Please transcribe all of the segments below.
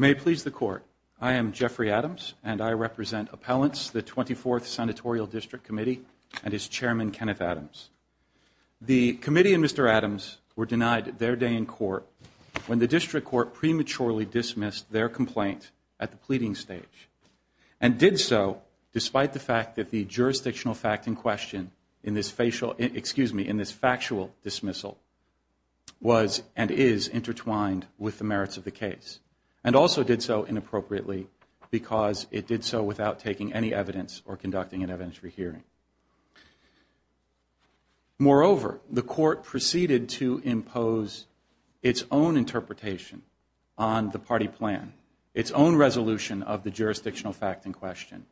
May it please the Court, I am Jeffrey Adams, and I represent Appellants, the 24th Senatorial District Committee, and its Chairman, Kenneth Adams. The Committee and Mr. Adams were denied their day in court when the District Court prematurely dismissed their complaint at the pleading stage, and did so despite the fact that the jurisdictional fact in question in this factual dismissal was and is intertwined with the merits of the case, and also did so inappropriately because it did so without taking any evidence or conducting an evidentiary hearing. Moreover, the Court proceeded to impose its own interpretation on the party plan, its own resolution of the jurisdictional fact in question,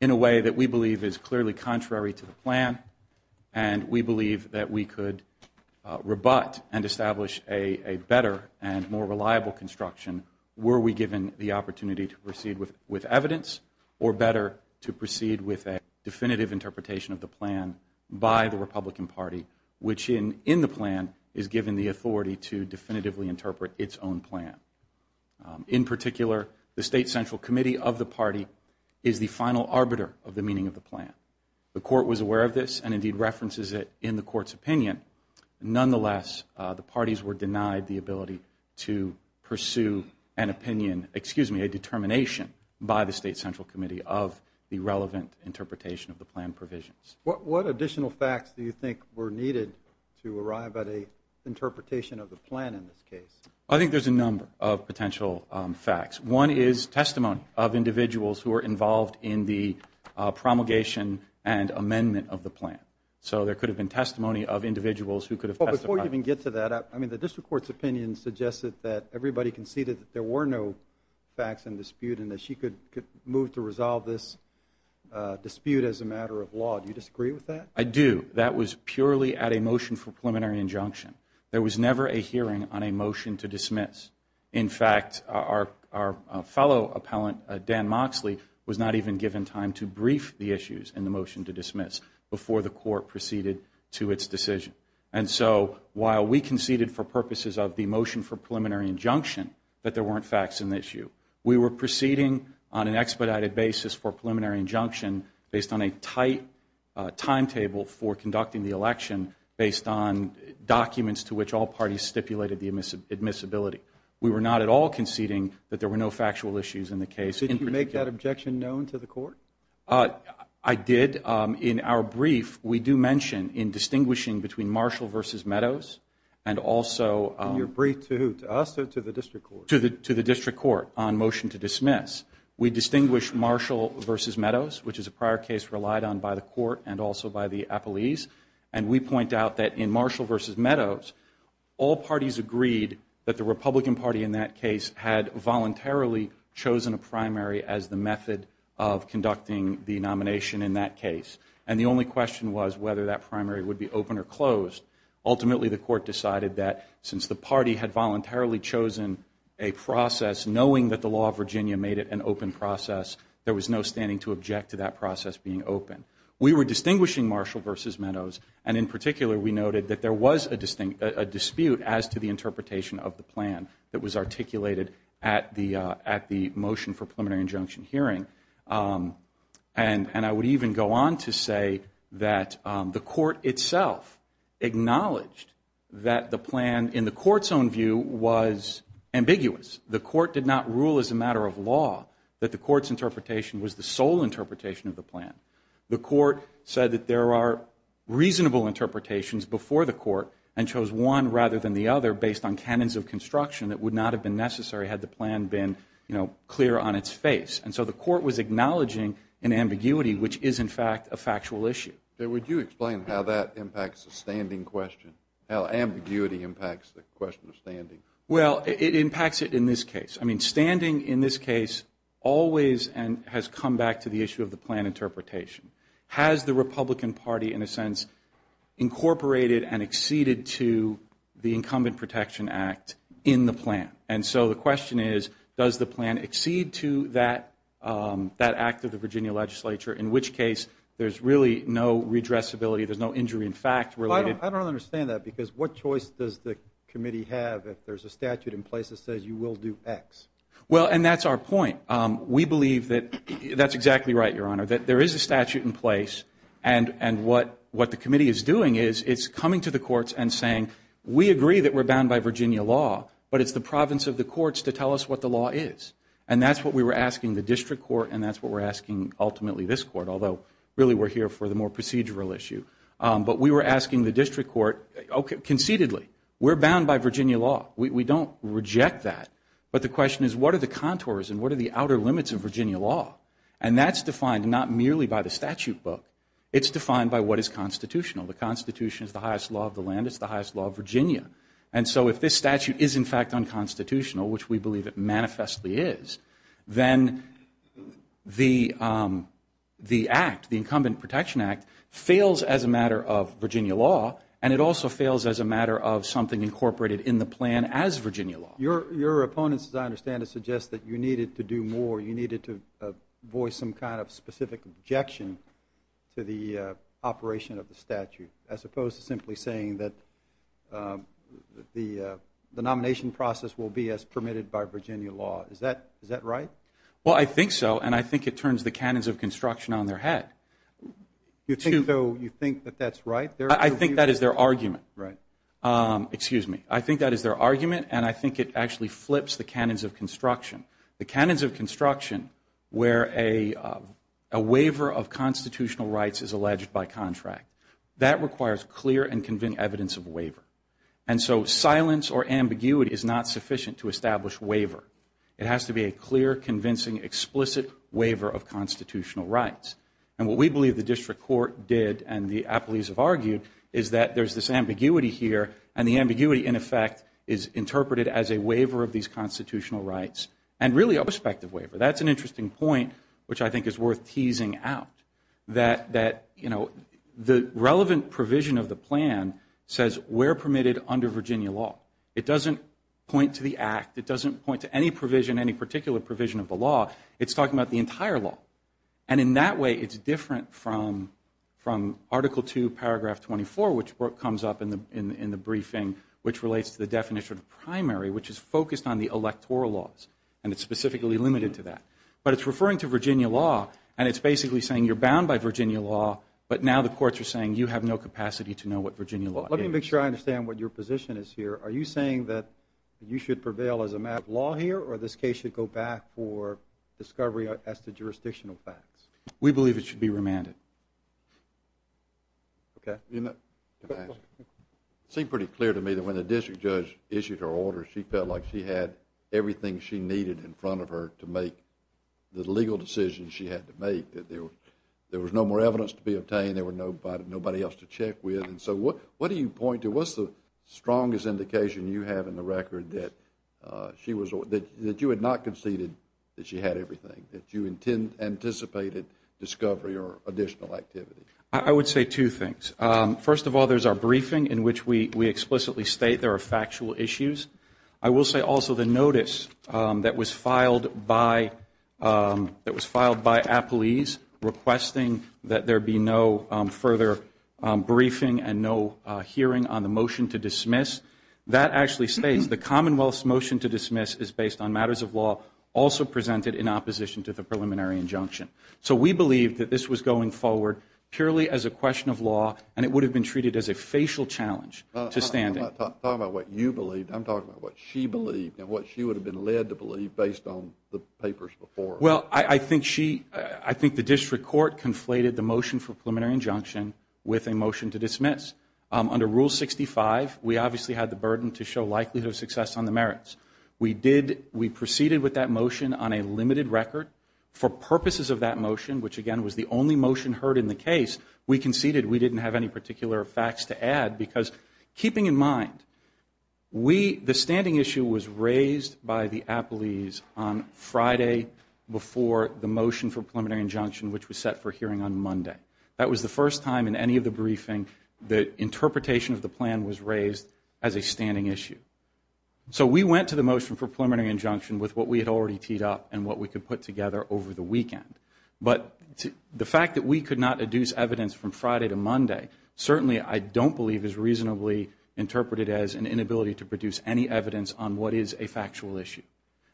in a way that we believe is clearly contrary to the plan, and we believe that we could rebut and establish a better and more reliable construction were we given the opportunity to proceed with evidence or better to proceed with a definitive interpretation of the plan by the Republican Party, which in the plan is given the authority to definitively interpret its own plan. In particular, the State Central Committee of the party is the final arbiter of the meaning of the plan. The Court was aware of this, and indeed references it in the Court's opinion. Nonetheless, the parties were denied the ability to pursue an opinion, excuse me, a determination by the State Central Committee of the relevant interpretation of the plan provisions. What additional facts do you think were needed to arrive at an interpretation of the plan in this case? I think there's a number of potential facts. One is testimony of individuals who are involved in the promulgation and amendment of the plan. So there could have been testimony of individuals who could have testified. But before you even get to that, I mean, the District Court's opinion suggested that everybody conceded that there were no facts in dispute and that she could move to resolve this dispute as a matter of law. Do you disagree with that? I do. That was purely at a motion for preliminary injunction. There was never a hearing on a motion to dismiss. In fact, our fellow appellant, Dan Moxley, was not even given time to brief the issues in the motion to dismiss before the Court proceeded to its decision. And so while we conceded for purposes of the motion for preliminary injunction that there weren't facts in the issue, we were proceeding on an timetable for conducting the election based on documents to which all parties stipulated the admissibility. We were not at all conceding that there were no factual issues in the case. Did you make that objection known to the Court? I did. In our brief, we do mention in distinguishing between Marshall v. Meadows and also to the District Court on motion to dismiss, we distinguish Marshall v. Meadows by the Court and also by the appellees. And we point out that in Marshall v. Meadows, all parties agreed that the Republican Party in that case had voluntarily chosen a primary as the method of conducting the nomination in that case. And the only question was whether that primary would be open or closed. Ultimately, the Court decided that since the party had voluntarily chosen a process knowing that the law of Virginia made it an open process, there was no standing to object to that process being open. We were distinguishing Marshall v. Meadows, and in particular, we noted that there was a dispute as to the interpretation of the plan that was articulated at the motion for preliminary injunction hearing. And I would even go on to say that the Court itself acknowledged that the plan in the Court's own view was ambiguous. The Court did not rule as a matter of law that the Court's interpretation was the sole interpretation of the plan. The Court said that there are reasonable interpretations before the Court and chose one rather than the other based on canons of construction that would not have been necessary had the plan been, you know, clear on its face. And so the Court was acknowledging an ambiguity, which is, in fact, a factual issue. Jay, would you explain how that impacts the standing question, how ambiguity impacts the question of standing? Well, it impacts it in this case. I mean, standing in this case always has come back to the issue of the plan interpretation. Has the Republican Party, in a sense, incorporated and acceded to the Incumbent Protection Act in the plan? And so the question is, does the plan accede to that act of the Virginia legislature, in which case there's really no redressability, there's no injury in fact related? I don't understand that because what choice does the committee have if there's a statute in place that says you will do X? Well, and that's our point. We believe that that's exactly right, Your Honor, that there is a statute in place and what the committee is doing is it's coming to the courts and saying, we agree that we're bound by Virginia law, but it's the province of the courts to tell us what the law is. And that's what we were asking the district court and that's what we're asking ultimately this court, although really we're here for the more procedural issue. But we were asking the district court, okay, concededly, we're bound by Virginia law. We don't reject that. But the question is, what are the contours and what are the outer limits of Virginia law? And that's defined not merely by the statute book. It's defined by what is constitutional. The Constitution is the highest law of the land. It's the highest law of Virginia. And so if this statute is in fact unconstitutional, which we believe it manifestly is, then the act, the incumbent protection act, fails as a matter of Virginia law and it also fails as a matter of something incorporated in the plan as Virginia law. Your opponents, as I understand it, suggest that you needed to do more. You needed to voice some kind of specific objection to the operation of the statute as opposed to simply saying that the nomination process will be as permitted by Virginia law. Is that right? Well, I think so. And I think it turns the cannons of construction on their head. You think that that's right? I think that is their argument. Right. Excuse me. I think that is their argument. And I think it actually flips the cannons of construction. The cannons of construction where a waiver of constitutional rights is alleged by contract. That requires clear and convincing evidence of waiver. And so silence or ambiguity is not sufficient to establish waiver. It has to be a clear, convincing, explicit waiver of constitutional rights. And what we believe the district court did and the apologies have argued is that there's this ambiguity here and the ambiguity in effect is interpreted as a waiver of these constitutional rights. And really a prospective waiver. That's an interesting point which I think is worth teasing out. That, you know, the relevant provision of the plan says we're permitted under Virginia law. It doesn't point to the act. It doesn't point to any provision, any particular provision of the law. It's talking about the entire law. And in that way it's different from Article 2, Paragraph 24 which comes up in the briefing which relates to the definition of primary which is focused on the electoral laws. And it's specifically limited to that. But it's referring to Virginia law and it's basically saying you're bound by Virginia law but now the courts are saying you have no capacity to know what Virginia law is. Let me make sure I understand what your position is here. Are you saying that you should prevail as a matter of law here or this case should go back for discovery as to jurisdictional facts? We believe it should be remanded. Okay. It seemed pretty clear to me that when the district judge issued her order she felt like she had everything she needed in front of her to make the legal decision she had to make. That there was no more evidence to be obtained. There was nobody else to check with. So what do you point to? What's the strongest indication you have in the record that you had not conceded that she had everything, that you anticipated discovery or additional activity? I would say two things. First of all, there's our briefing in which we explicitly state there are factual issues. I will say also the notice that was filed by, that was filed by appellees requesting that there be no further briefing and no hearing on the motion to dismiss, that actually states the Commonwealth's motion to dismiss is based on matters of law also presented in opposition to the preliminary injunction. So we believe that this was going forward purely as a question of law and it would have been treated as a facial challenge to standing. I'm not talking about what you believed. I'm talking about what she believed and what she would have been led to believe based on the papers before. Well, I think she, I think the district court conflated the motion for preliminary injunction with a motion to dismiss. Under Rule 65, we obviously had the burden to show likelihood of success on the merits. We did, we proceeded with that motion on a limited record. For purposes of that motion, which again was the only motion heard in the case, we conceded we didn't have any particular facts to add. Because keeping in mind, we, the standing issue was raised by the appellees on Friday before the motion for preliminary injunction, which was set for hearing on Monday. That was the first time in any of the briefing that interpretation of the plan was raised as a standing issue. So we went to the motion for preliminary injunction with what we had already teed up and what we could put together over the weekend. But the fact that we could not adduce evidence from Friday to Monday, certainly I don't believe is reasonably interpreted as an inability to produce any evidence on what is a factual issue.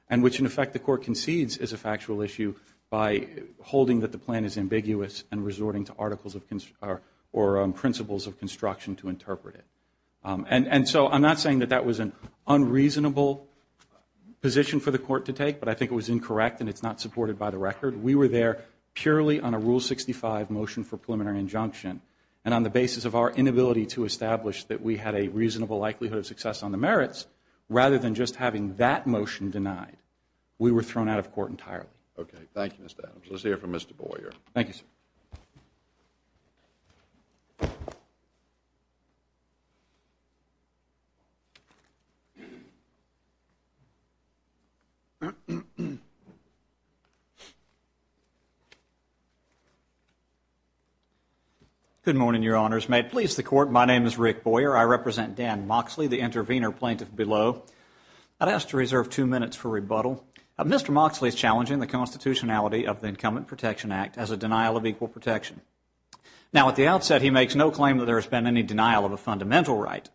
And which in effect the court concedes is a factual issue by holding that the plan is ambiguous and resorting to articles or principles of construction to interpret it. And so I'm not saying that that was an unreasonable position for the court to take, but I think it was incorrect and it's not supported by the record. We were there purely on a Rule 65 motion for preliminary injunction. And on the basis of our inability to establish that we had a reasonable likelihood of success on the merits, rather than just having that motion denied, we were thrown out of court entirely. Okay. Thank you, Mr. Adams. Let's hear from Mr. Boyer. Thank you, sir. Good morning, Your Honors. May it please the Court, my name is Rick Boyer. I represent Dan Moxley, the intervener plaintiff below. I'd ask to reserve two minutes for rebuttal. Mr. Moxley is challenging the constitutionality of the Incumbent Protection Act as a denial of equal protection. Now, at the outset, he makes no claim that there has been any denial of a fundamental right.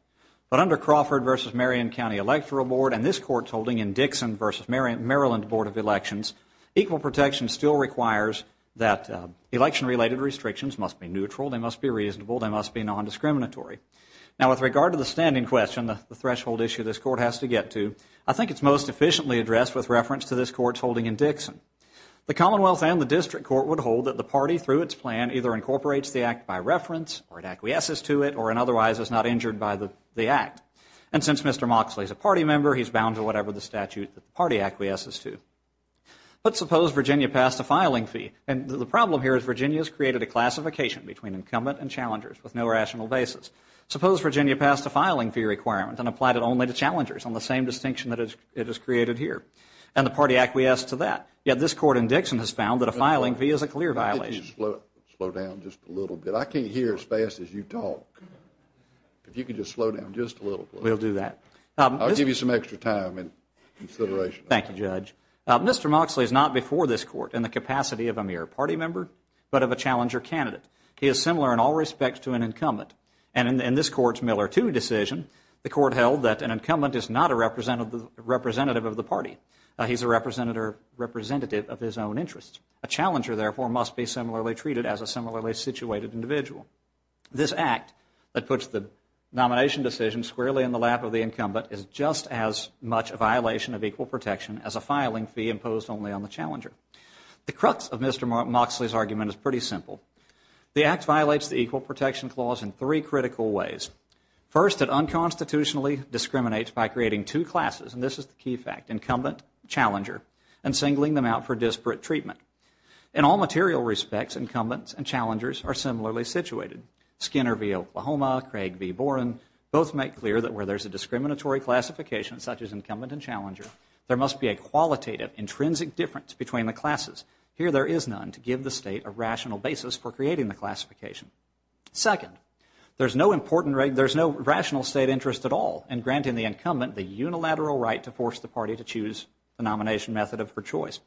But under Crawford v. Marion County Electoral Board and this Court's holding in Dixon v. Maryland Board of Elections, equal protection still requires that election-related restrictions must be neutral, they must be reasonable, they must be nondiscriminatory. Now, with regard to the standing question, the threshold issue this Court has to get to, I think it's most efficiently addressed with reference to this Court's holding in Dixon. The Commonwealth and the District Court would hold that the party, through its plan, either incorporates the act by reference, or it acquiesces to it, or in otherwise is not injured by the act. And since Mr. Moxley is a party member, he's bound to whatever the statute that the party acquiesces to. But suppose Virginia passed a filing fee, and the problem here is Virginia has created a classification between incumbent and challengers with no rational basis. Suppose Virginia passed a filing fee requirement and applied it only to challengers on the same distinction that it has created here. And the party acquiesced to that. Yet this Court in Dixon has found that a filing fee is a clear violation. Slow down just a little bit. I can't hear as fast as you talk. If you could just slow down just a little bit. We'll do that. I'll give you some extra time and consideration. Thank you, Judge. Mr. Moxley is not before this Court in the capacity of a mere party member, but of a challenger candidate. He is similar in all respects to an incumbent. And in this Court's Miller 2 decision, the Court held that an incumbent is not a representative of the party. He's a representative of his own interests. A challenger, therefore, must be similarly treated as a similarly situated individual. This act that puts the nomination decision squarely in the lap of the incumbent is just as much a violation of equal protection as a filing fee imposed only on the challenger. The crux of Mr. Moxley's argument is pretty simple. The act violates the equal protection clause in three critical ways. First, it unconstitutionally discriminates by creating two classes, and this is the key fact, incumbent and challenger, and singling them out for disparate treatment. In all material respects, incumbents and challengers are similarly situated. Skinner v. Oklahoma, Craig v. Boren both make clear that where there's a discriminatory classification such as incumbent and challenger, there must be a qualitative, intrinsic difference between the classes. Here, there is none to give the state a rational basis for creating the classification. Second, there's no rational state interest at all in granting the incumbent the unilateral right to force the party to choose the nomination method of her choice.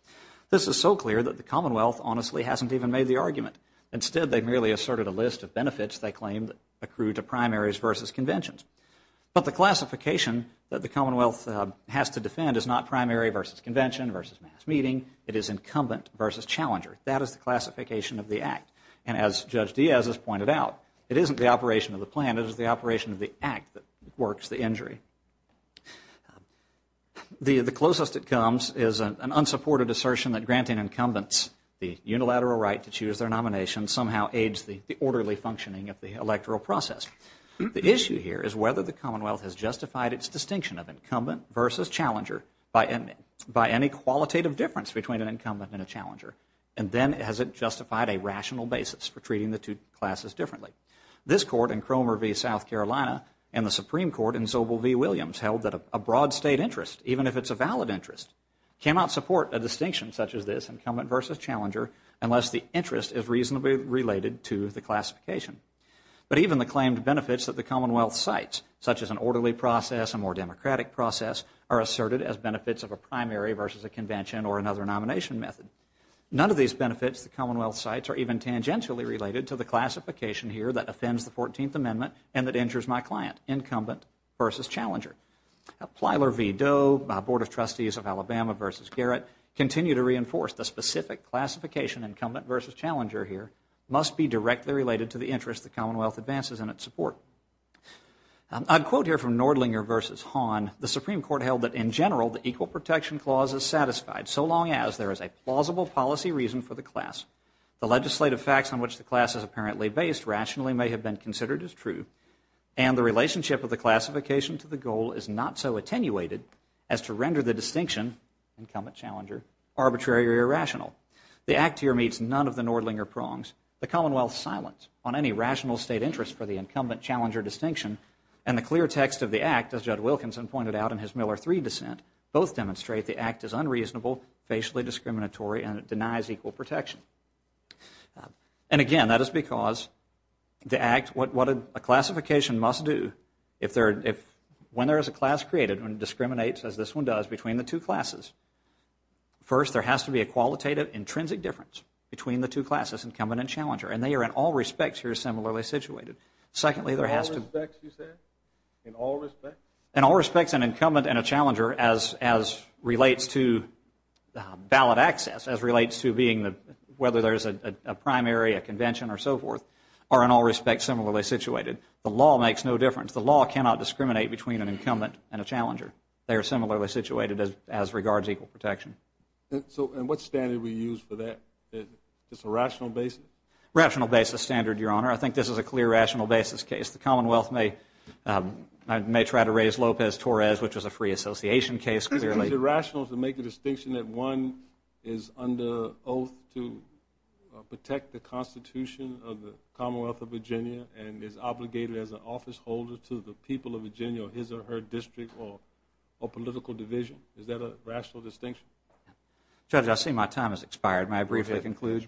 This is so clear that the Commonwealth honestly hasn't even made the argument. Instead, they've merely asserted a list of benefits they claim accrue to primaries versus conventions. But the classification that the Commonwealth has to defend is not primary versus convention versus mass meeting. It is incumbent versus challenger. That is the classification of the Act. And as Judge Diaz has pointed out, it isn't the operation of the plan. It is the operation of the Act that works the injury. The closest it comes is an unsupported assertion that granting incumbents the unilateral right to choose their nomination somehow aids the orderly functioning of the electoral process. The issue here is whether the Commonwealth has justified its distinction of incumbent versus challenger by any qualitative difference between an incumbent and a challenger, and then has it justified a rational basis for treating the two classes differently. This Court in Cromer v. South Carolina and the Supreme Court in Sobel v. Williams held that a broad state interest, even if it's a valid interest, cannot support a distinction such as this, incumbent versus challenger, unless the interest is reasonably related to the classification. But even the claimed benefits that the Commonwealth cites, such as an orderly process, a more democratic process, are asserted as benefits of a primary versus a convention or another nomination method. None of these benefits the Commonwealth cites are even tangentially related to the classification here that offends the 14th Amendment and that injures my client, incumbent versus challenger. Plyler v. Doe, Board of Trustees of Alabama v. Garrett, continue to reinforce the specific classification incumbent versus challenger here must be directly related to the interest the Commonwealth advances in its support. I'd quote here from Nordlinger v. Hahn. The Supreme Court held that, in general, the Equal Protection Clause is satisfied, so long as there is a plausible policy reason for the class, the legislative facts on which the class is apparently based rationally may have been considered as true, and the relationship of the classification to the goal is not so attenuated as to render the distinction, incumbent versus challenger, arbitrary or irrational. The Act here meets none of the Nordlinger prongs. The Commonwealth's silence on any rational state interest for the incumbent-challenger distinction and the clear text of the Act, as Judd Wilkinson pointed out in his Miller III dissent, both demonstrate the Act is unreasonable, facially discriminatory, and it denies equal protection. And again, that is because the Act, what a classification must do, when there is a class created, when it discriminates, as this one does, between the two classes, first, there has to be a qualitative, intrinsic difference between the two classes, incumbent and challenger, and they are in all respects here similarly situated. Secondly, there has to... In all respects, you said? In all respects? In all respects, an incumbent and a challenger, as relates to ballot access, as relates to being the, whether there is a primary, a convention, or so forth, are in all respects similarly situated. The law makes no difference. The law cannot discriminate between an incumbent and a challenger. They are similarly situated as regards equal protection. And what standard do we use for that? Just a rational basis? Rational basis standard, Your Honor. I think this is a clear rational basis case. The Commonwealth may... I may try to raise Lopez-Torres, which was a free association case, clearly. Is it rational to make a distinction that one is under oath to protect the Constitution of the Commonwealth of Virginia or his or her district or political division? Is that a rational distinction? Judge, I see my time has expired. May I briefly conclude?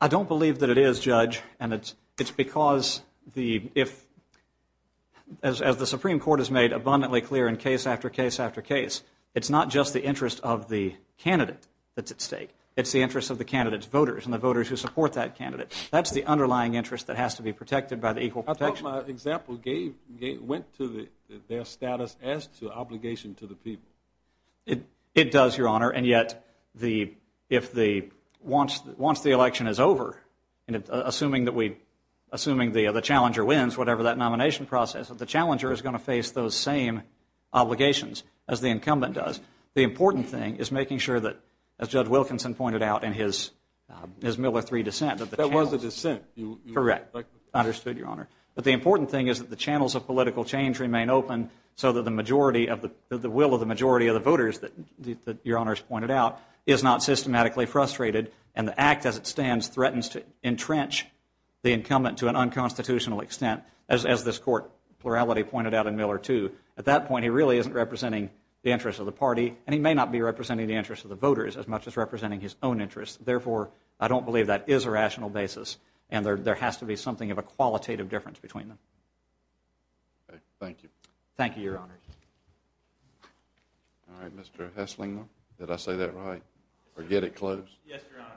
I don't believe that it is, Judge, and it's because the... If... As the Supreme Court has made abundantly clear in case after case after case, it's not just the interest of the candidate that's at stake. It's the interest of the candidate's voters and the voters who support that candidate. That's the underlying interest that has to be protected by the equal protection. I thought my example gave... Went to their status as to obligation to the people. It does, Your Honor, and yet the... If the... Once the election is over and assuming that we... Assuming the challenger wins, whatever that nomination process, if the challenger is going to face those same obligations as the incumbent does, the important thing is making sure that, as Judge Wilkinson pointed out in his Miller III dissent, that the challenger... That was a dissent. Correct. Understood, Your Honor. But the important thing is that the channels of political change remain open so that the majority of the... The will of the majority of the voters that Your Honor's pointed out is not systematically frustrated and the act as it stands threatens to entrench the incumbent to an unconstitutional extent, as this Court plurality pointed out in Miller II. At that point, he really isn't representing the interest of the party and he may not be representing the interest of the voters as much as representing his own interest. Therefore, I don't believe that is a rational basis and there has to be something of a qualitative difference between them. Thank you. Thank you, Your Honor. All right, Mr. Heslinga. Did I say that right? Or did I get it close? Yes, Your Honor.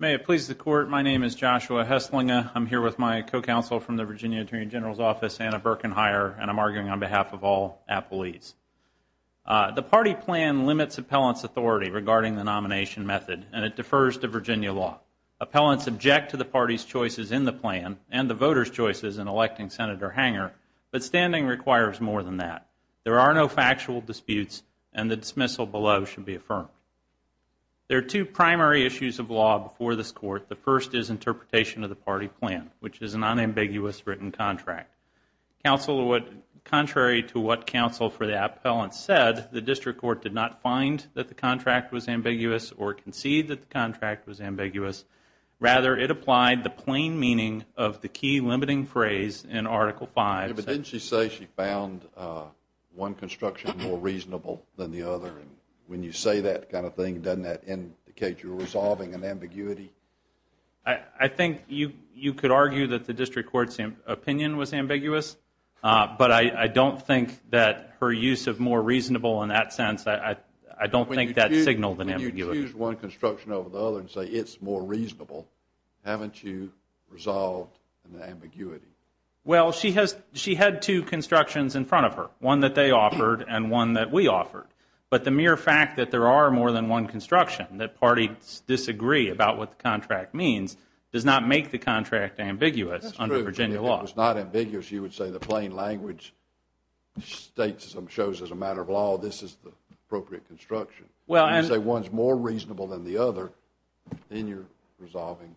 May it please the Court, my name is Joshua Heslinga. I'm here with my co-counsel from the Virginia Attorney General's Office Anna Birkenheyer and I'm arguing on behalf of all Appleese. The party plan limits appellant's authority regarding the nomination method and it defers to Virginia law. Appellants object to the party's choices in the plan and the voters' choices in electing Senator Hanger but standing requires more than that. There are no factual disputes and the dismissal below should be affirmed. There are two primary issues of law before this Court. The first is interpretation of the party plan which is a non-ambiguous written contract. Contrary to what counsel for the appellant said, the District Court did not find that the contract was ambiguous or concede that the contract was ambiguous. Rather, it applied the plain meaning of the key limiting phrase in Article 5. Didn't she say she found one construction more reasonable than the other and when you say that kind of thing, doesn't that indicate you're resolving an ambiguity? I think you could argue that the District Court's opinion was ambiguous but I don't think that her use of more reasonable in that sense, I don't think that signaled an ambiguity. When you choose one construction over the other and say it's more reasonable haven't you resolved an ambiguity? Well, she had two constructions in front of her. One that they offered and one that we offered. But the mere fact that there are more than one construction that parties disagree about what the contract means does not make the contract ambiguous under Virginia law. If it was not ambiguous, you would say the plain language shows as a matter of law this is the appropriate construction. If you say one is more reasonable than the other, then you're resolving.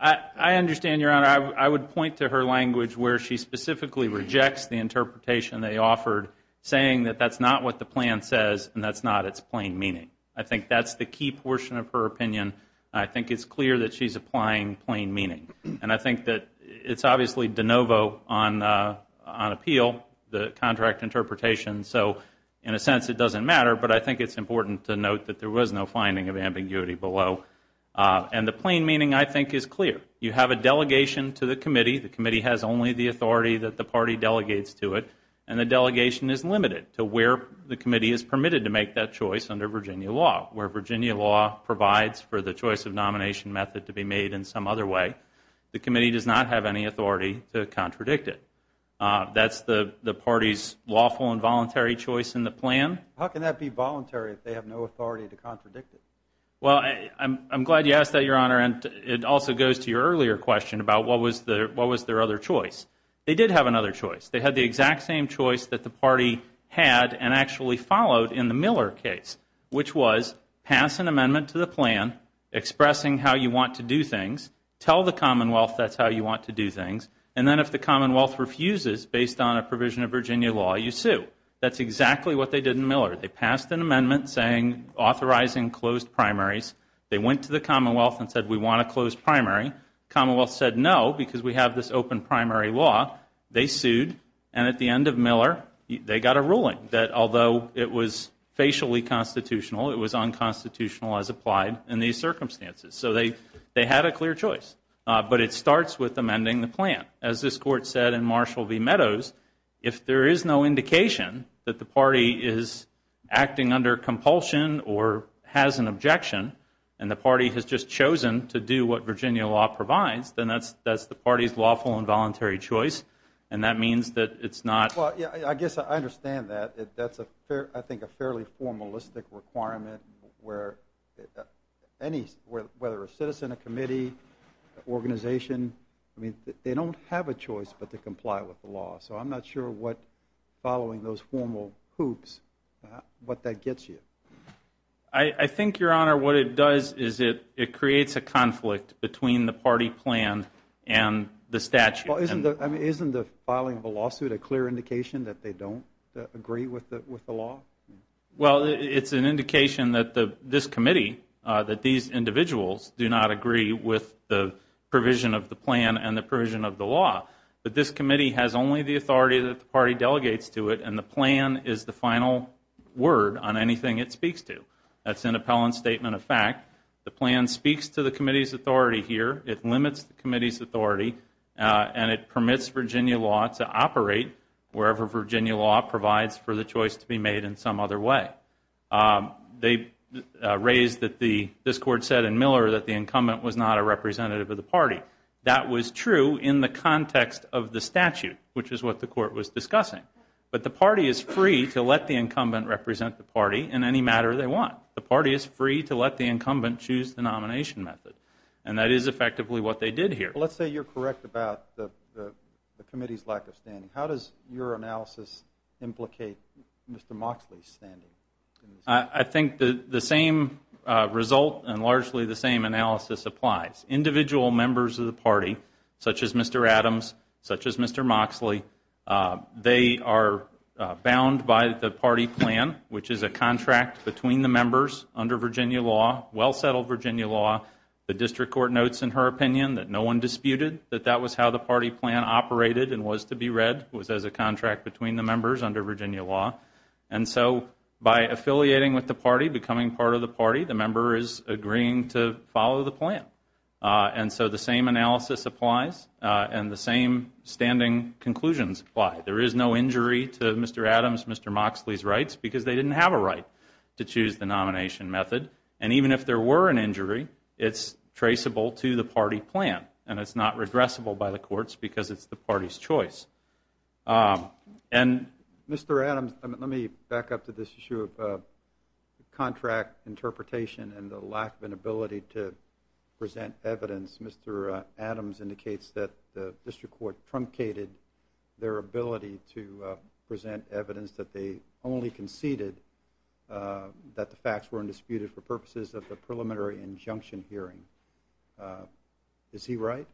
I understand, Your Honor. I would point to her language where she specifically rejects the interpretation they offered saying that that's not what the plan says and that's not its plain meaning. I think that's the key portion of her opinion. I think it's clear that she's applying plain meaning. And I think that it's obviously de novo on appeal the contract interpretation. So in a sense it doesn't matter but I think it's important to note that there was no finding of ambiguity below. And the plain meaning I think is clear. You have a delegation to the committee. The committee has only the authority that the party delegates to it. And the delegation is limited to where the committee is permitted to make that choice under Virginia law. Where Virginia law provides for the choice of nomination method to be made in some other way. The committee does not have any authority to contradict it. That's the party's lawful and voluntary choice in the plan. How can that be voluntary if they have no authority to contradict it? Well, I'm glad you asked that, Your Honor. And it also goes to your earlier question about what was their other choice. They did have another choice. They had the exact same choice that the party had and actually followed in the Miller case. Which was pass an amendment to the plan expressing how you want to do things. Tell the Commonwealth that's how you want to do things. And then if the Commonwealth refuses based on a provision of Virginia law you sue. That's exactly what they did in Miller. They passed an amendment saying authorizing closed primaries. They went to the Commonwealth and said we want a closed primary. Commonwealth said no because we have this open primary law. They sued. And at the end of Miller they got a ruling that although it was facially constitutional it was unconstitutional as applied in these circumstances. So they had a clear choice. But it starts with amending the plan. As this Court said in Marshall v. Meadows if there is no indication that the party is acting under compulsion or has an objection and the party has just chosen to do what Virginia law provides then that's the party's lawful and voluntary choice. And that means that I guess I understand that. That's I think a fairly formalistic requirement where any whether a citizen, a committee, organization they don't have a choice but to comply with the law. So I'm not sure what following those formal hoops what that gets you. I think Your Honor what it does is it creates a conflict between the party plan and the statute. Well isn't the filing of a lawsuit a clear indication that they don't agree with the law? Well it's an indication that this committee, that these individuals do not agree with the provision of the plan and the provision of the law. But this committee has only the authority that the party delegates to it and the plan is the final word on anything it speaks to. That's an appellant statement of fact. The plan speaks to the committee's authority here. It limits the committee's authority and it permits Virginia law to operate wherever Virginia law provides for the choice to be made in some other way. They raised that the, this court said in Miller that the incumbent was not a representative of the party. That was true in the context of the statute which is what the court was discussing. But the party is free to let the incumbent represent the party in any matter they want. The party is free to let the incumbent choose the nomination method. And that is effectively what they did here. Let's say you're correct about the committee's lack of standing. How does your analysis implicate Mr. Moxley's standing? I think the same result and largely the same analysis applies. Individual members of the party, such as Mr. Adams, such as Mr. Moxley they are bound by the party plan which is a contract between the members under Virginia law well settled Virginia law. The district court notes in her opinion that no one disputed that that was how the party plan operated and was to be read, was as a contract between the members under Virginia law. And so by affiliating with the party, becoming part of the party, the member is agreeing to follow the plan. And so the same analysis applies and the same standing conclusions apply. There is no injury to Mr. Adams, Mr. Moxley's rights because they didn't have a right to choose the nomination method. And even if there were an injury, it's traceable to the party plan. And it's not regressible by the courts because it's the party's choice. Mr. Adams let me back up to this issue of contract interpretation and the lack of an ability to present evidence. Mr. Adams indicates that the district court truncated their ability to present evidence that they only conceded that the facts weren't disputed for purposes of the preliminary injunction hearing. Is he right?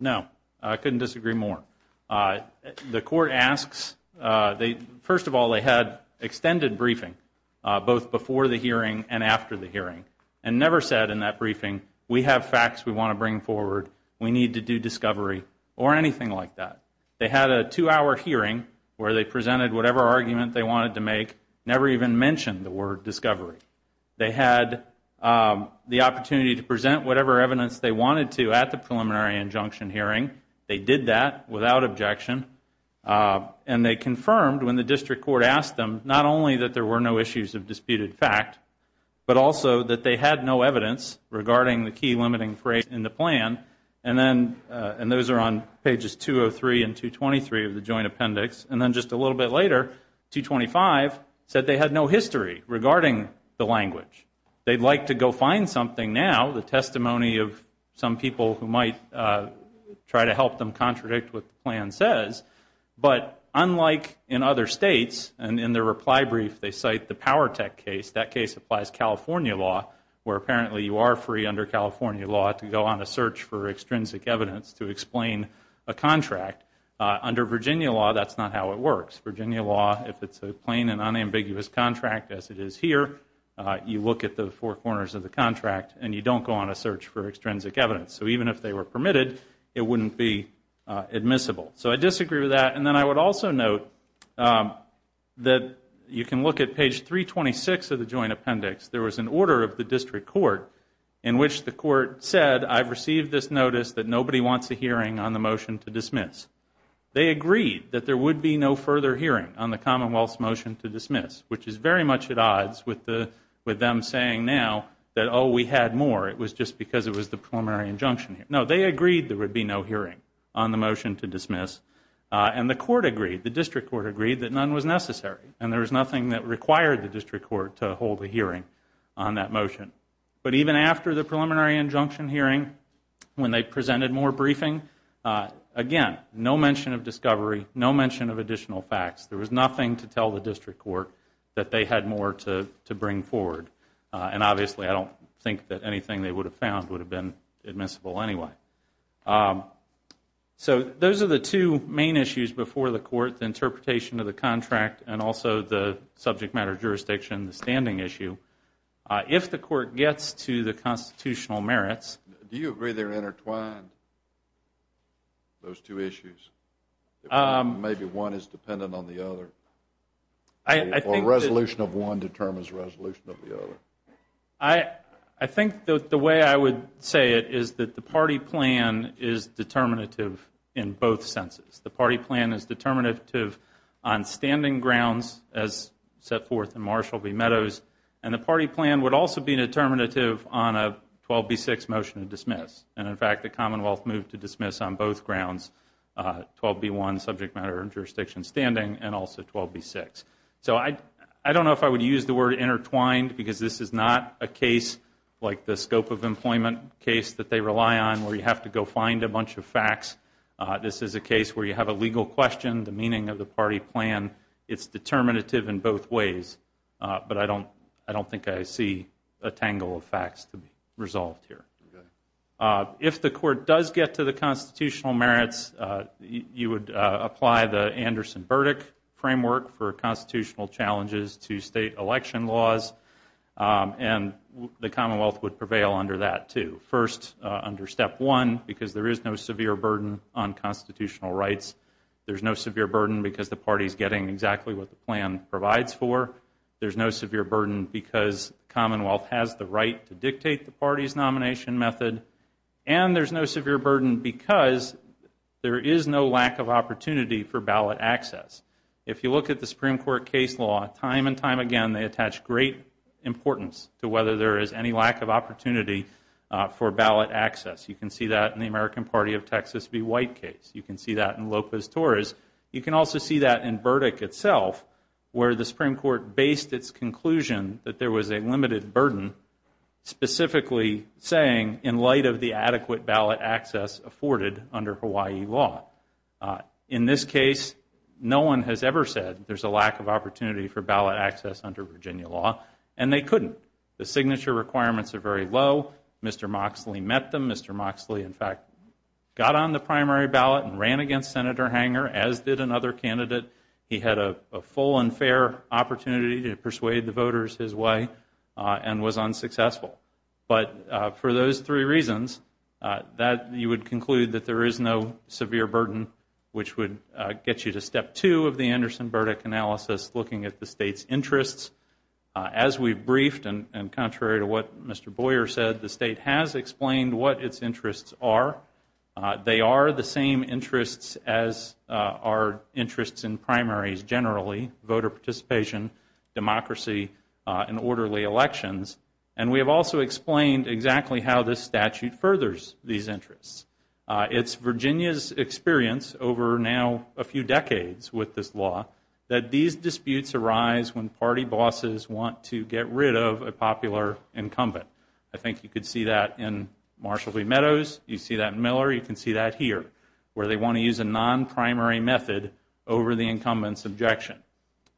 No. I couldn't disagree more. The court asks first of all they had extended briefing both before the hearing and after the hearing and never said in that briefing we have facts we want to bring forward, we need to do discovery or anything like that. They had a two hour hearing where they presented whatever argument they wanted to make, never even mentioned the word discovery. They had the opportunity to present whatever evidence they wanted to at the preliminary injunction hearing. They did that without objection and they confirmed when the district court asked them not only that there were no issues of disputed fact but also that they had no evidence regarding the key limiting phrase in the plan and then and those are on pages 203 and 223 of the joint appendix and then just a little bit later 225 said they had no history regarding the language. They'd like to go find something now the testimony of some people who might try to help them contradict what the plan says but unlike in other states and in their reply brief they cite the Powertech case, that case applies California law where apparently you are free under California law to go on a search for extrinsic evidence to explain a contract under Virginia law that's not how it works. Virginia law if it's a plain and unambiguous contract as it is here you look at the four corners of the contract and you don't go on a search for extrinsic evidence. So even if they were permitted it wouldn't be admissible. So I disagree with that and then I would also note that you can look at page 326 of the joint appendix. There was an order of the district court in which the court said I've received this notice that nobody wants a hearing on the motion to dismiss. They agreed that there would be no further hearing on the commonwealth's motion to dismiss which is very much at odds with them saying now that oh we had more it was just because it was the preliminary injunction. No they agreed there would be no hearing on the motion to dismiss and the court agreed, the district court agreed that none was necessary and there was nothing that required the district court to hold a hearing on that motion. But even after the preliminary injunction hearing when they presented more briefing, again no mention of discovery, no mention of additional facts. There was nothing to tell the district court that they had more to bring forward and obviously I don't think that anything they would have found would have been admissible anyway. So those are the two main issues before the court, the interpretation of the contract and also the subject matter jurisdiction, the standing issue. If the court gets to the Do you agree they're intertwined, those two issues? Maybe one is dependent on the other? Or resolution of one determines resolution of the other? I think the way I would say it is that the party plan is determinative in both senses. The party plan is determinative on standing grounds as set forth in Marshall v. Meadows and the party plan would also be determinative on a 12B6 motion to dismiss. And in fact the Commonwealth moved to dismiss on both grounds, 12B1 subject matter and jurisdiction standing and also 12B6. So I don't know if I would use the word intertwined because this is not a case like the scope of employment case that they rely on where you have to go find a bunch of facts. This is a case where you have a legal question, the meaning of the party plan it's determinative in both ways. But I don't think I see a tangle of facts to be resolved here. If the court does get to the constitutional merits you would apply the Anderson-Burdick framework for constitutional challenges to state election laws and the Commonwealth would prevail under that too. First under step one because there is no severe burden on constitutional rights. There's no severe burden because the party is getting exactly what the plan provides for. There's no severe burden because the Commonwealth has the right to dictate the party's nomination method and there's no severe burden because there is no lack of opportunity for ballot access. If you look at the Supreme Court case law time and time again they attach great importance to whether there is any lack of opportunity for ballot access. You can see that in the American Party of Texas v. White case. You can see that in Lopez-Torres. You can also see that in Burdick itself where the Supreme Court based its conclusion that there was a limited burden specifically saying in light of the adequate ballot access afforded under Hawaii law. In this case no one has ever said there's a lack of opportunity for ballot access under Virginia law and they couldn't. The signature requirements are very low. Mr. Moxley met them. Mr. Moxley in fact got on the primary ballot and ran against Senator Hanger as did another candidate. He had a full and fair opportunity to persuade the voters his way and was unsuccessful. But for those three reasons that you would conclude that there is no severe burden which would get you to step two of the Anderson-Burdick analysis looking at the state's interests. As we've briefed and contrary to what Mr. Boyer said the state has explained what its interests are. They are the same interests as are primaries generally, voter participation, democracy and orderly elections. And we have also explained exactly how this statute furthers these interests. It's Virginia's experience over now a few decades with this law that these disputes arise when party bosses want to get rid of a popular incumbent. I think you could see that in Marshall v. Meadows. You see that in Miller. You can see that here where they want to use a non-primary method over the incumbent's objection.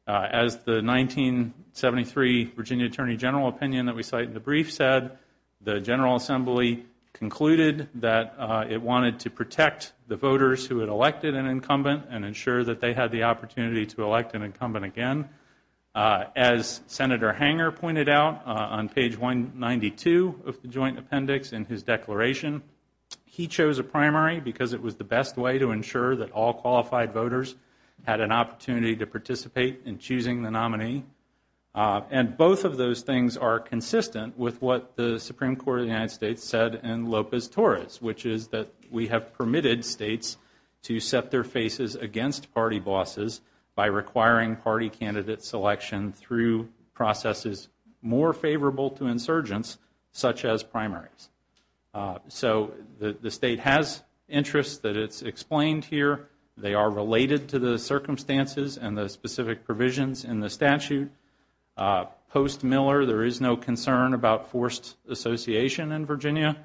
As the 1973 Virginia Attorney General opinion that we cite in the brief said, the General Assembly concluded that it wanted to protect the voters who had elected an incumbent and ensure that they had the opportunity to elect an incumbent again. As Senator Hanger pointed out on page 192 because it was the best way to ensure that all qualified voters had an opportunity to participate in choosing the nominee. And both of those things are consistent with what the Supreme Court of the United States said in Lopez-Torres, which is that we have permitted states to set their faces against party bosses by requiring party candidate selection through processes more favorable to insurgents such as primaries. So the state has interest that it's explained here. They are related to the circumstances and the specific provisions in the statute. Post-Miller, there is no concern about forced association in Virginia.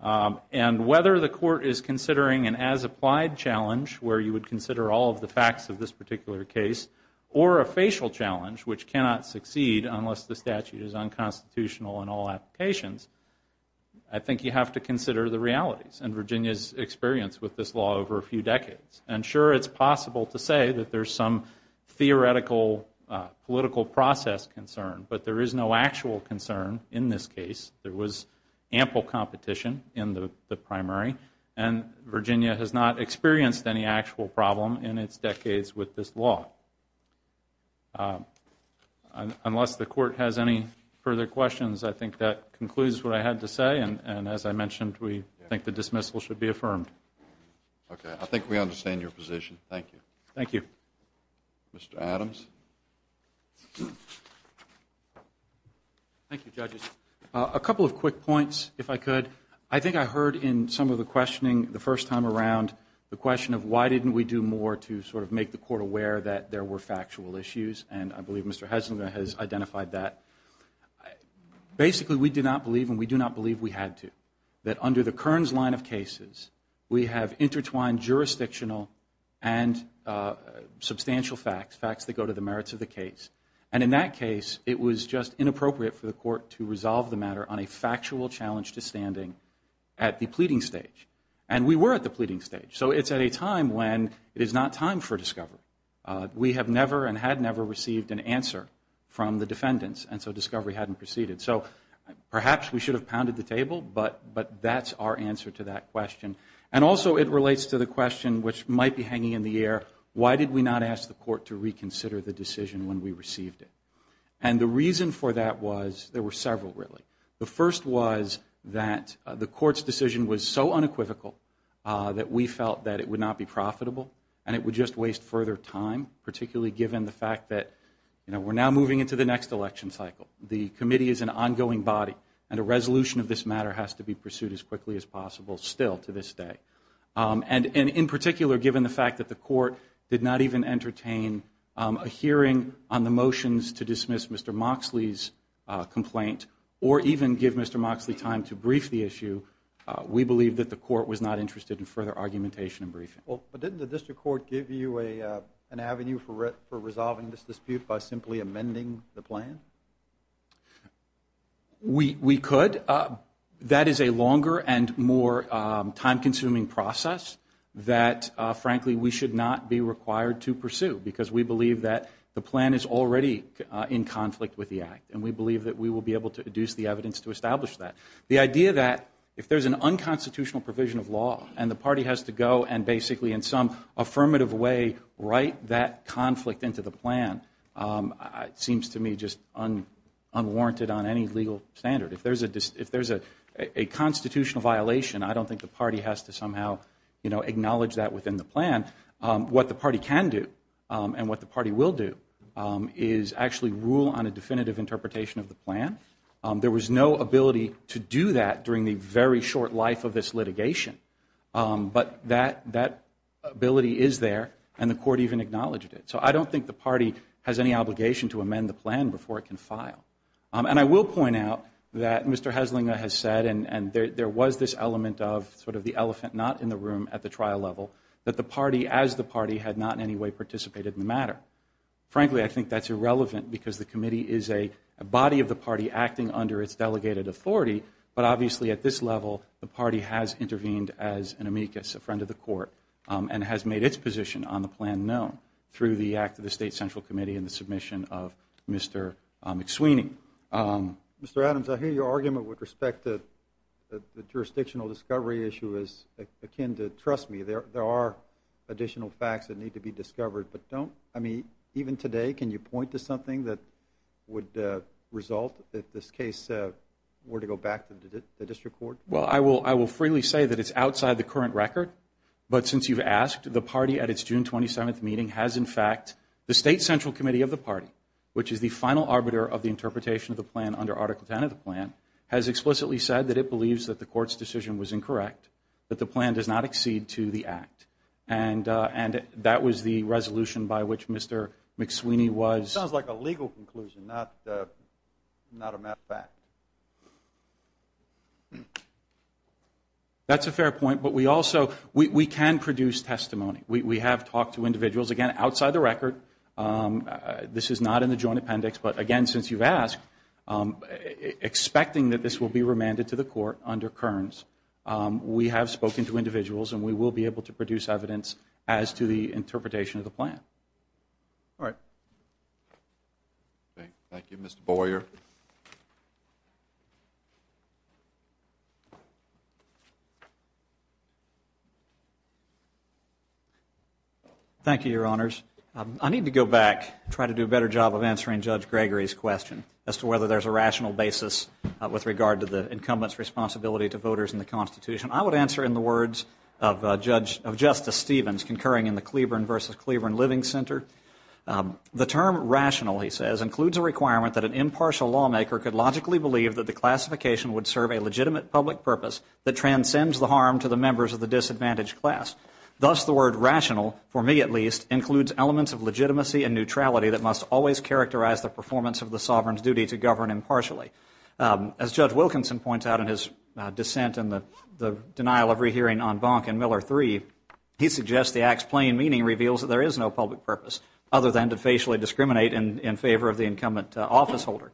And whether the court is considering an as-applied challenge where you would consider all of the facts of this particular case, or a facial challenge, which cannot succeed unless the statute is unconstitutional in all applications, I think you have to consider the realities in Virginia's experience with this law over a few decades. And sure, it's possible to say that there's some theoretical, political process concern, but there is no actual concern in this case. There was ample competition in the primary, and Virginia has not experienced any actual problem in its decades with this law. Unless the statute is unconstitutional, I think that concludes what I had to say, and as I mentioned, we think the dismissal should be affirmed. Okay. I think we understand your position. Thank you. Thank you. Mr. Adams? Thank you, judges. A couple of quick points, if I could. I think I heard in some of the questioning the first time around the question of why didn't we do more to sort of make the court aware that there were factual issues, and I believe Mr. Heselgaard has identified that. Basically, we do not believe, and we do not believe we had to, that under the Kearns line of cases, we have intertwined jurisdictional and substantial facts, facts that go to the merits of the case, and in that case, it was just inappropriate for the court to resolve the matter on a factual challenge to standing at the pleading stage. And we were at the pleading stage, so it's at a time when it is not time for discovery. We have never and had never received an answer from the defendants, and so discovery hadn't proceeded. So perhaps we should have pounded the table, but that's our answer to that question. And also, it relates to the question which might be hanging in the air, why did we not ask the court to reconsider the decision when we received it? And the reason for that was, there were several, really. The first was that the court's decision was so unequivocal that we felt that it would not be profitable, and it would just waste further time, particularly given the fact that we're now moving into the next election cycle. The committee is an ongoing body, and a resolution of this matter has to be pursued as quickly as possible still, to this day. And in particular, given the fact that the court did not even entertain a hearing on the motions to dismiss Mr. Moxley's complaint, or even give Mr. Moxley time to brief the issue, we believe that the court was not interested in further argumentation and briefing. But didn't the district court give you an avenue for resolving this dispute by simply amending the plan? We could. That is a longer and more time-consuming process that, frankly, we should not be required to pursue, because we believe that the plan is already in conflict with the Act, and we believe that we will be able to deduce the evidence to establish that. The idea that, if there's an unconstitutional provision of law and the party has to go and basically, in some affirmative way, write that conflict into the plan seems to me just unwarranted on any legal standard. If there's a constitutional violation, I don't think the party has to somehow acknowledge that within the plan. What the party can do, and what the party will do, is actually rule on a definitive interpretation of the plan. There was no ability to do that during the very short life of this litigation, but that ability is there, and the court even acknowledged it. So I don't think the party has any obligation to amend the plan before it can file. And I will point out that Mr. Hesslinger has said, and there was this element of sort of the elephant not in the room at the trial level, that the party, as the party, had not in any way participated in the matter. Frankly, I think that's irrelevant, because the committee is a body of the party acting under its delegated authority, but obviously at this level, the party has intervened as an amicus, a friend of the court, and has made its position on the plan known through the act of the State Central Committee and the submission of Mr. McSweeney. Mr. Adams, I hear your argument with respect to the jurisdictional discovery issue is akin to, trust me, there are additional facts that need to be discovered, but don't, I mean, even today, can you point to something that would result if this case were to go back to the district court? Well, I will freely say that it's outside the current record, but since you've asked, the party at its June 27th meeting has, in fact, the State Central Committee of the party, which is the final arbiter of the interpretation of the plan under Article 10 of the plan, has explicitly said that it believes that the court's decision was incorrect, that the plan does not accede to the act. And that was the resolution by which Mr. McSweeney was... Sounds like a legal conclusion, not a matter of fact. That's a fair point, but we also, we can produce testimony. We have talked to individuals, again, outside the record, this is not in the joint appendix, but again, since you've asked, expecting that this will be remanded to the court under Kearns, we have spoken to individuals, and we will be able to produce evidence as to the interpretation of the plan. All right. Thank you. Mr. Boyer. Thank you, Your Honors. I need to go back and try to do a better job of answering Judge Gregory's question, as to whether there's a rational basis with regard to the incumbent's responsibility to voters in the Constitution. I would answer in the words of Justice Stevens, concurring in the Cleburne v. Cleburne Living Center. The term rational, he says, includes a requirement that an impartial lawmaker could logically believe that the classification would serve a legitimate public purpose that transcends the harm to the members of the disadvantaged class. Thus, the word rational, for me at least, includes elements of legitimacy and neutrality that must always characterize the performance of the sovereign's duty to govern impartially. As Judge Wilkinson points out in his dissent in the denial of rehearing on Bonk and Miller III, he suggests the act's plain meaning reveals that there is no public purpose other than to facially discriminate in favor of the incumbent officeholder.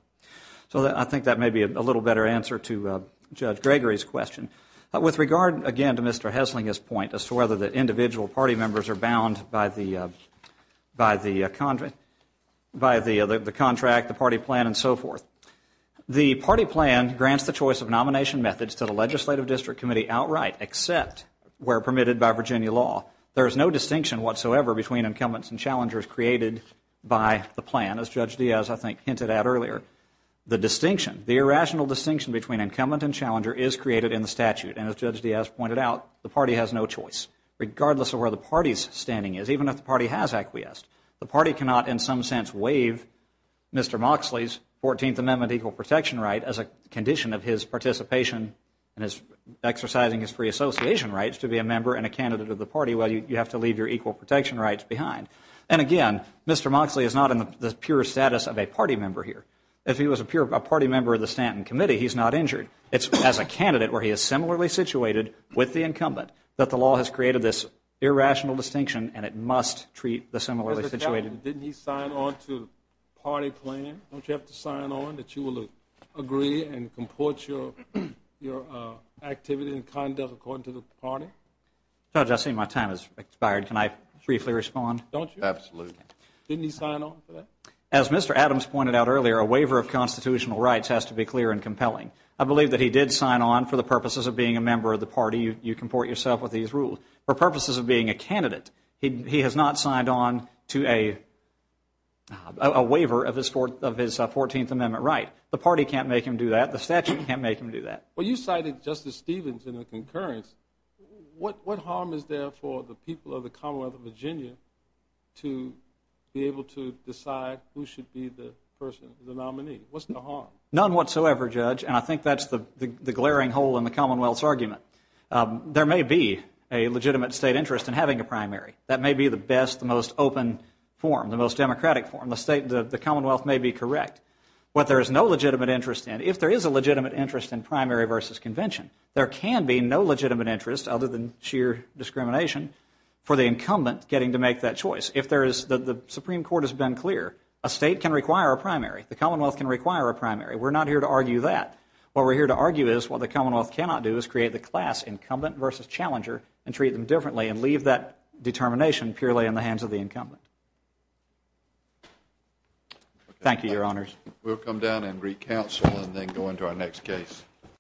So I think that may be a little better answer to Judge Gregory's question. With regard, again, to Mr. Hessling's point, as to whether the individual party members are bound by the contract, the party plan, and so forth. The party plan grants the choice of nomination methods to the Legislative District Committee outright, except where permitted by Virginia law. There is no distinction whatsoever between incumbents and challengers created by the plan. As Judge Diaz, I think, hinted at earlier, the distinction, the irrational distinction between incumbent and challenger is created in the statute. And as Judge Diaz pointed out, the party has no choice, regardless of where the party's standing is, even if the party has acquiesced. The party cannot, in some sense, waive Mr. Moxley's 14th Amendment equal protection right as a condition of his participation in his exercising his free association rights to be a member and a candidate of the party. Well, you have to leave your equal protection rights behind. And again, Mr. Moxley is not in the pure status of a party member here. If he was a party member of the Stanton Committee, he's not injured. It's as a candidate, where he is similarly situated with the incumbent, that the law has created this irrational distinction, and it must treat the similarly situated. Didn't he sign on to the party plan? Don't you have to sign on that you will agree and comport your activity and conduct according to the party? Judge, I see my time has expired. Can I briefly respond? Don't you? Absolutely. Didn't he sign on to that? As Mr. Adams pointed out earlier, a waiver of constitutional rights has to be clear and compelling. I believe that he did sign on for the purposes of being a member of the party. You comport yourself with these rules. For purposes of being a candidate, he has not signed on to a waiver of his 14th Amendment right. The party can't make him do that. The statute can't make him do that. Well, you cited Justice Stevens in the concurrence. What harm is there for the people of the Commonwealth of Virginia to be able to decide who should be the person, the nominee? What's the harm? None whatsoever, Judge, and I think that's the glaring hole in the Commonwealth's argument. There may be a legitimate state interest in having a primary. That may be the best, the most open form, the most democratic form. The Commonwealth may be correct. What there is no legitimate interest in, if there is a legitimate interest in primary versus convention, there can be no legitimate interest, other than sheer discrimination, for the incumbent getting to make that choice. The Supreme Court has been clear. A state can require a primary. The Commonwealth can require a primary. We're not here to argue that. What we're here to argue is what the Commonwealth cannot do is create the class incumbent versus challenger and treat them differently and leave that determination purely in the hands of the incumbent. Thank you, Your Honors. We'll come down and re-counsel and then go into our next case.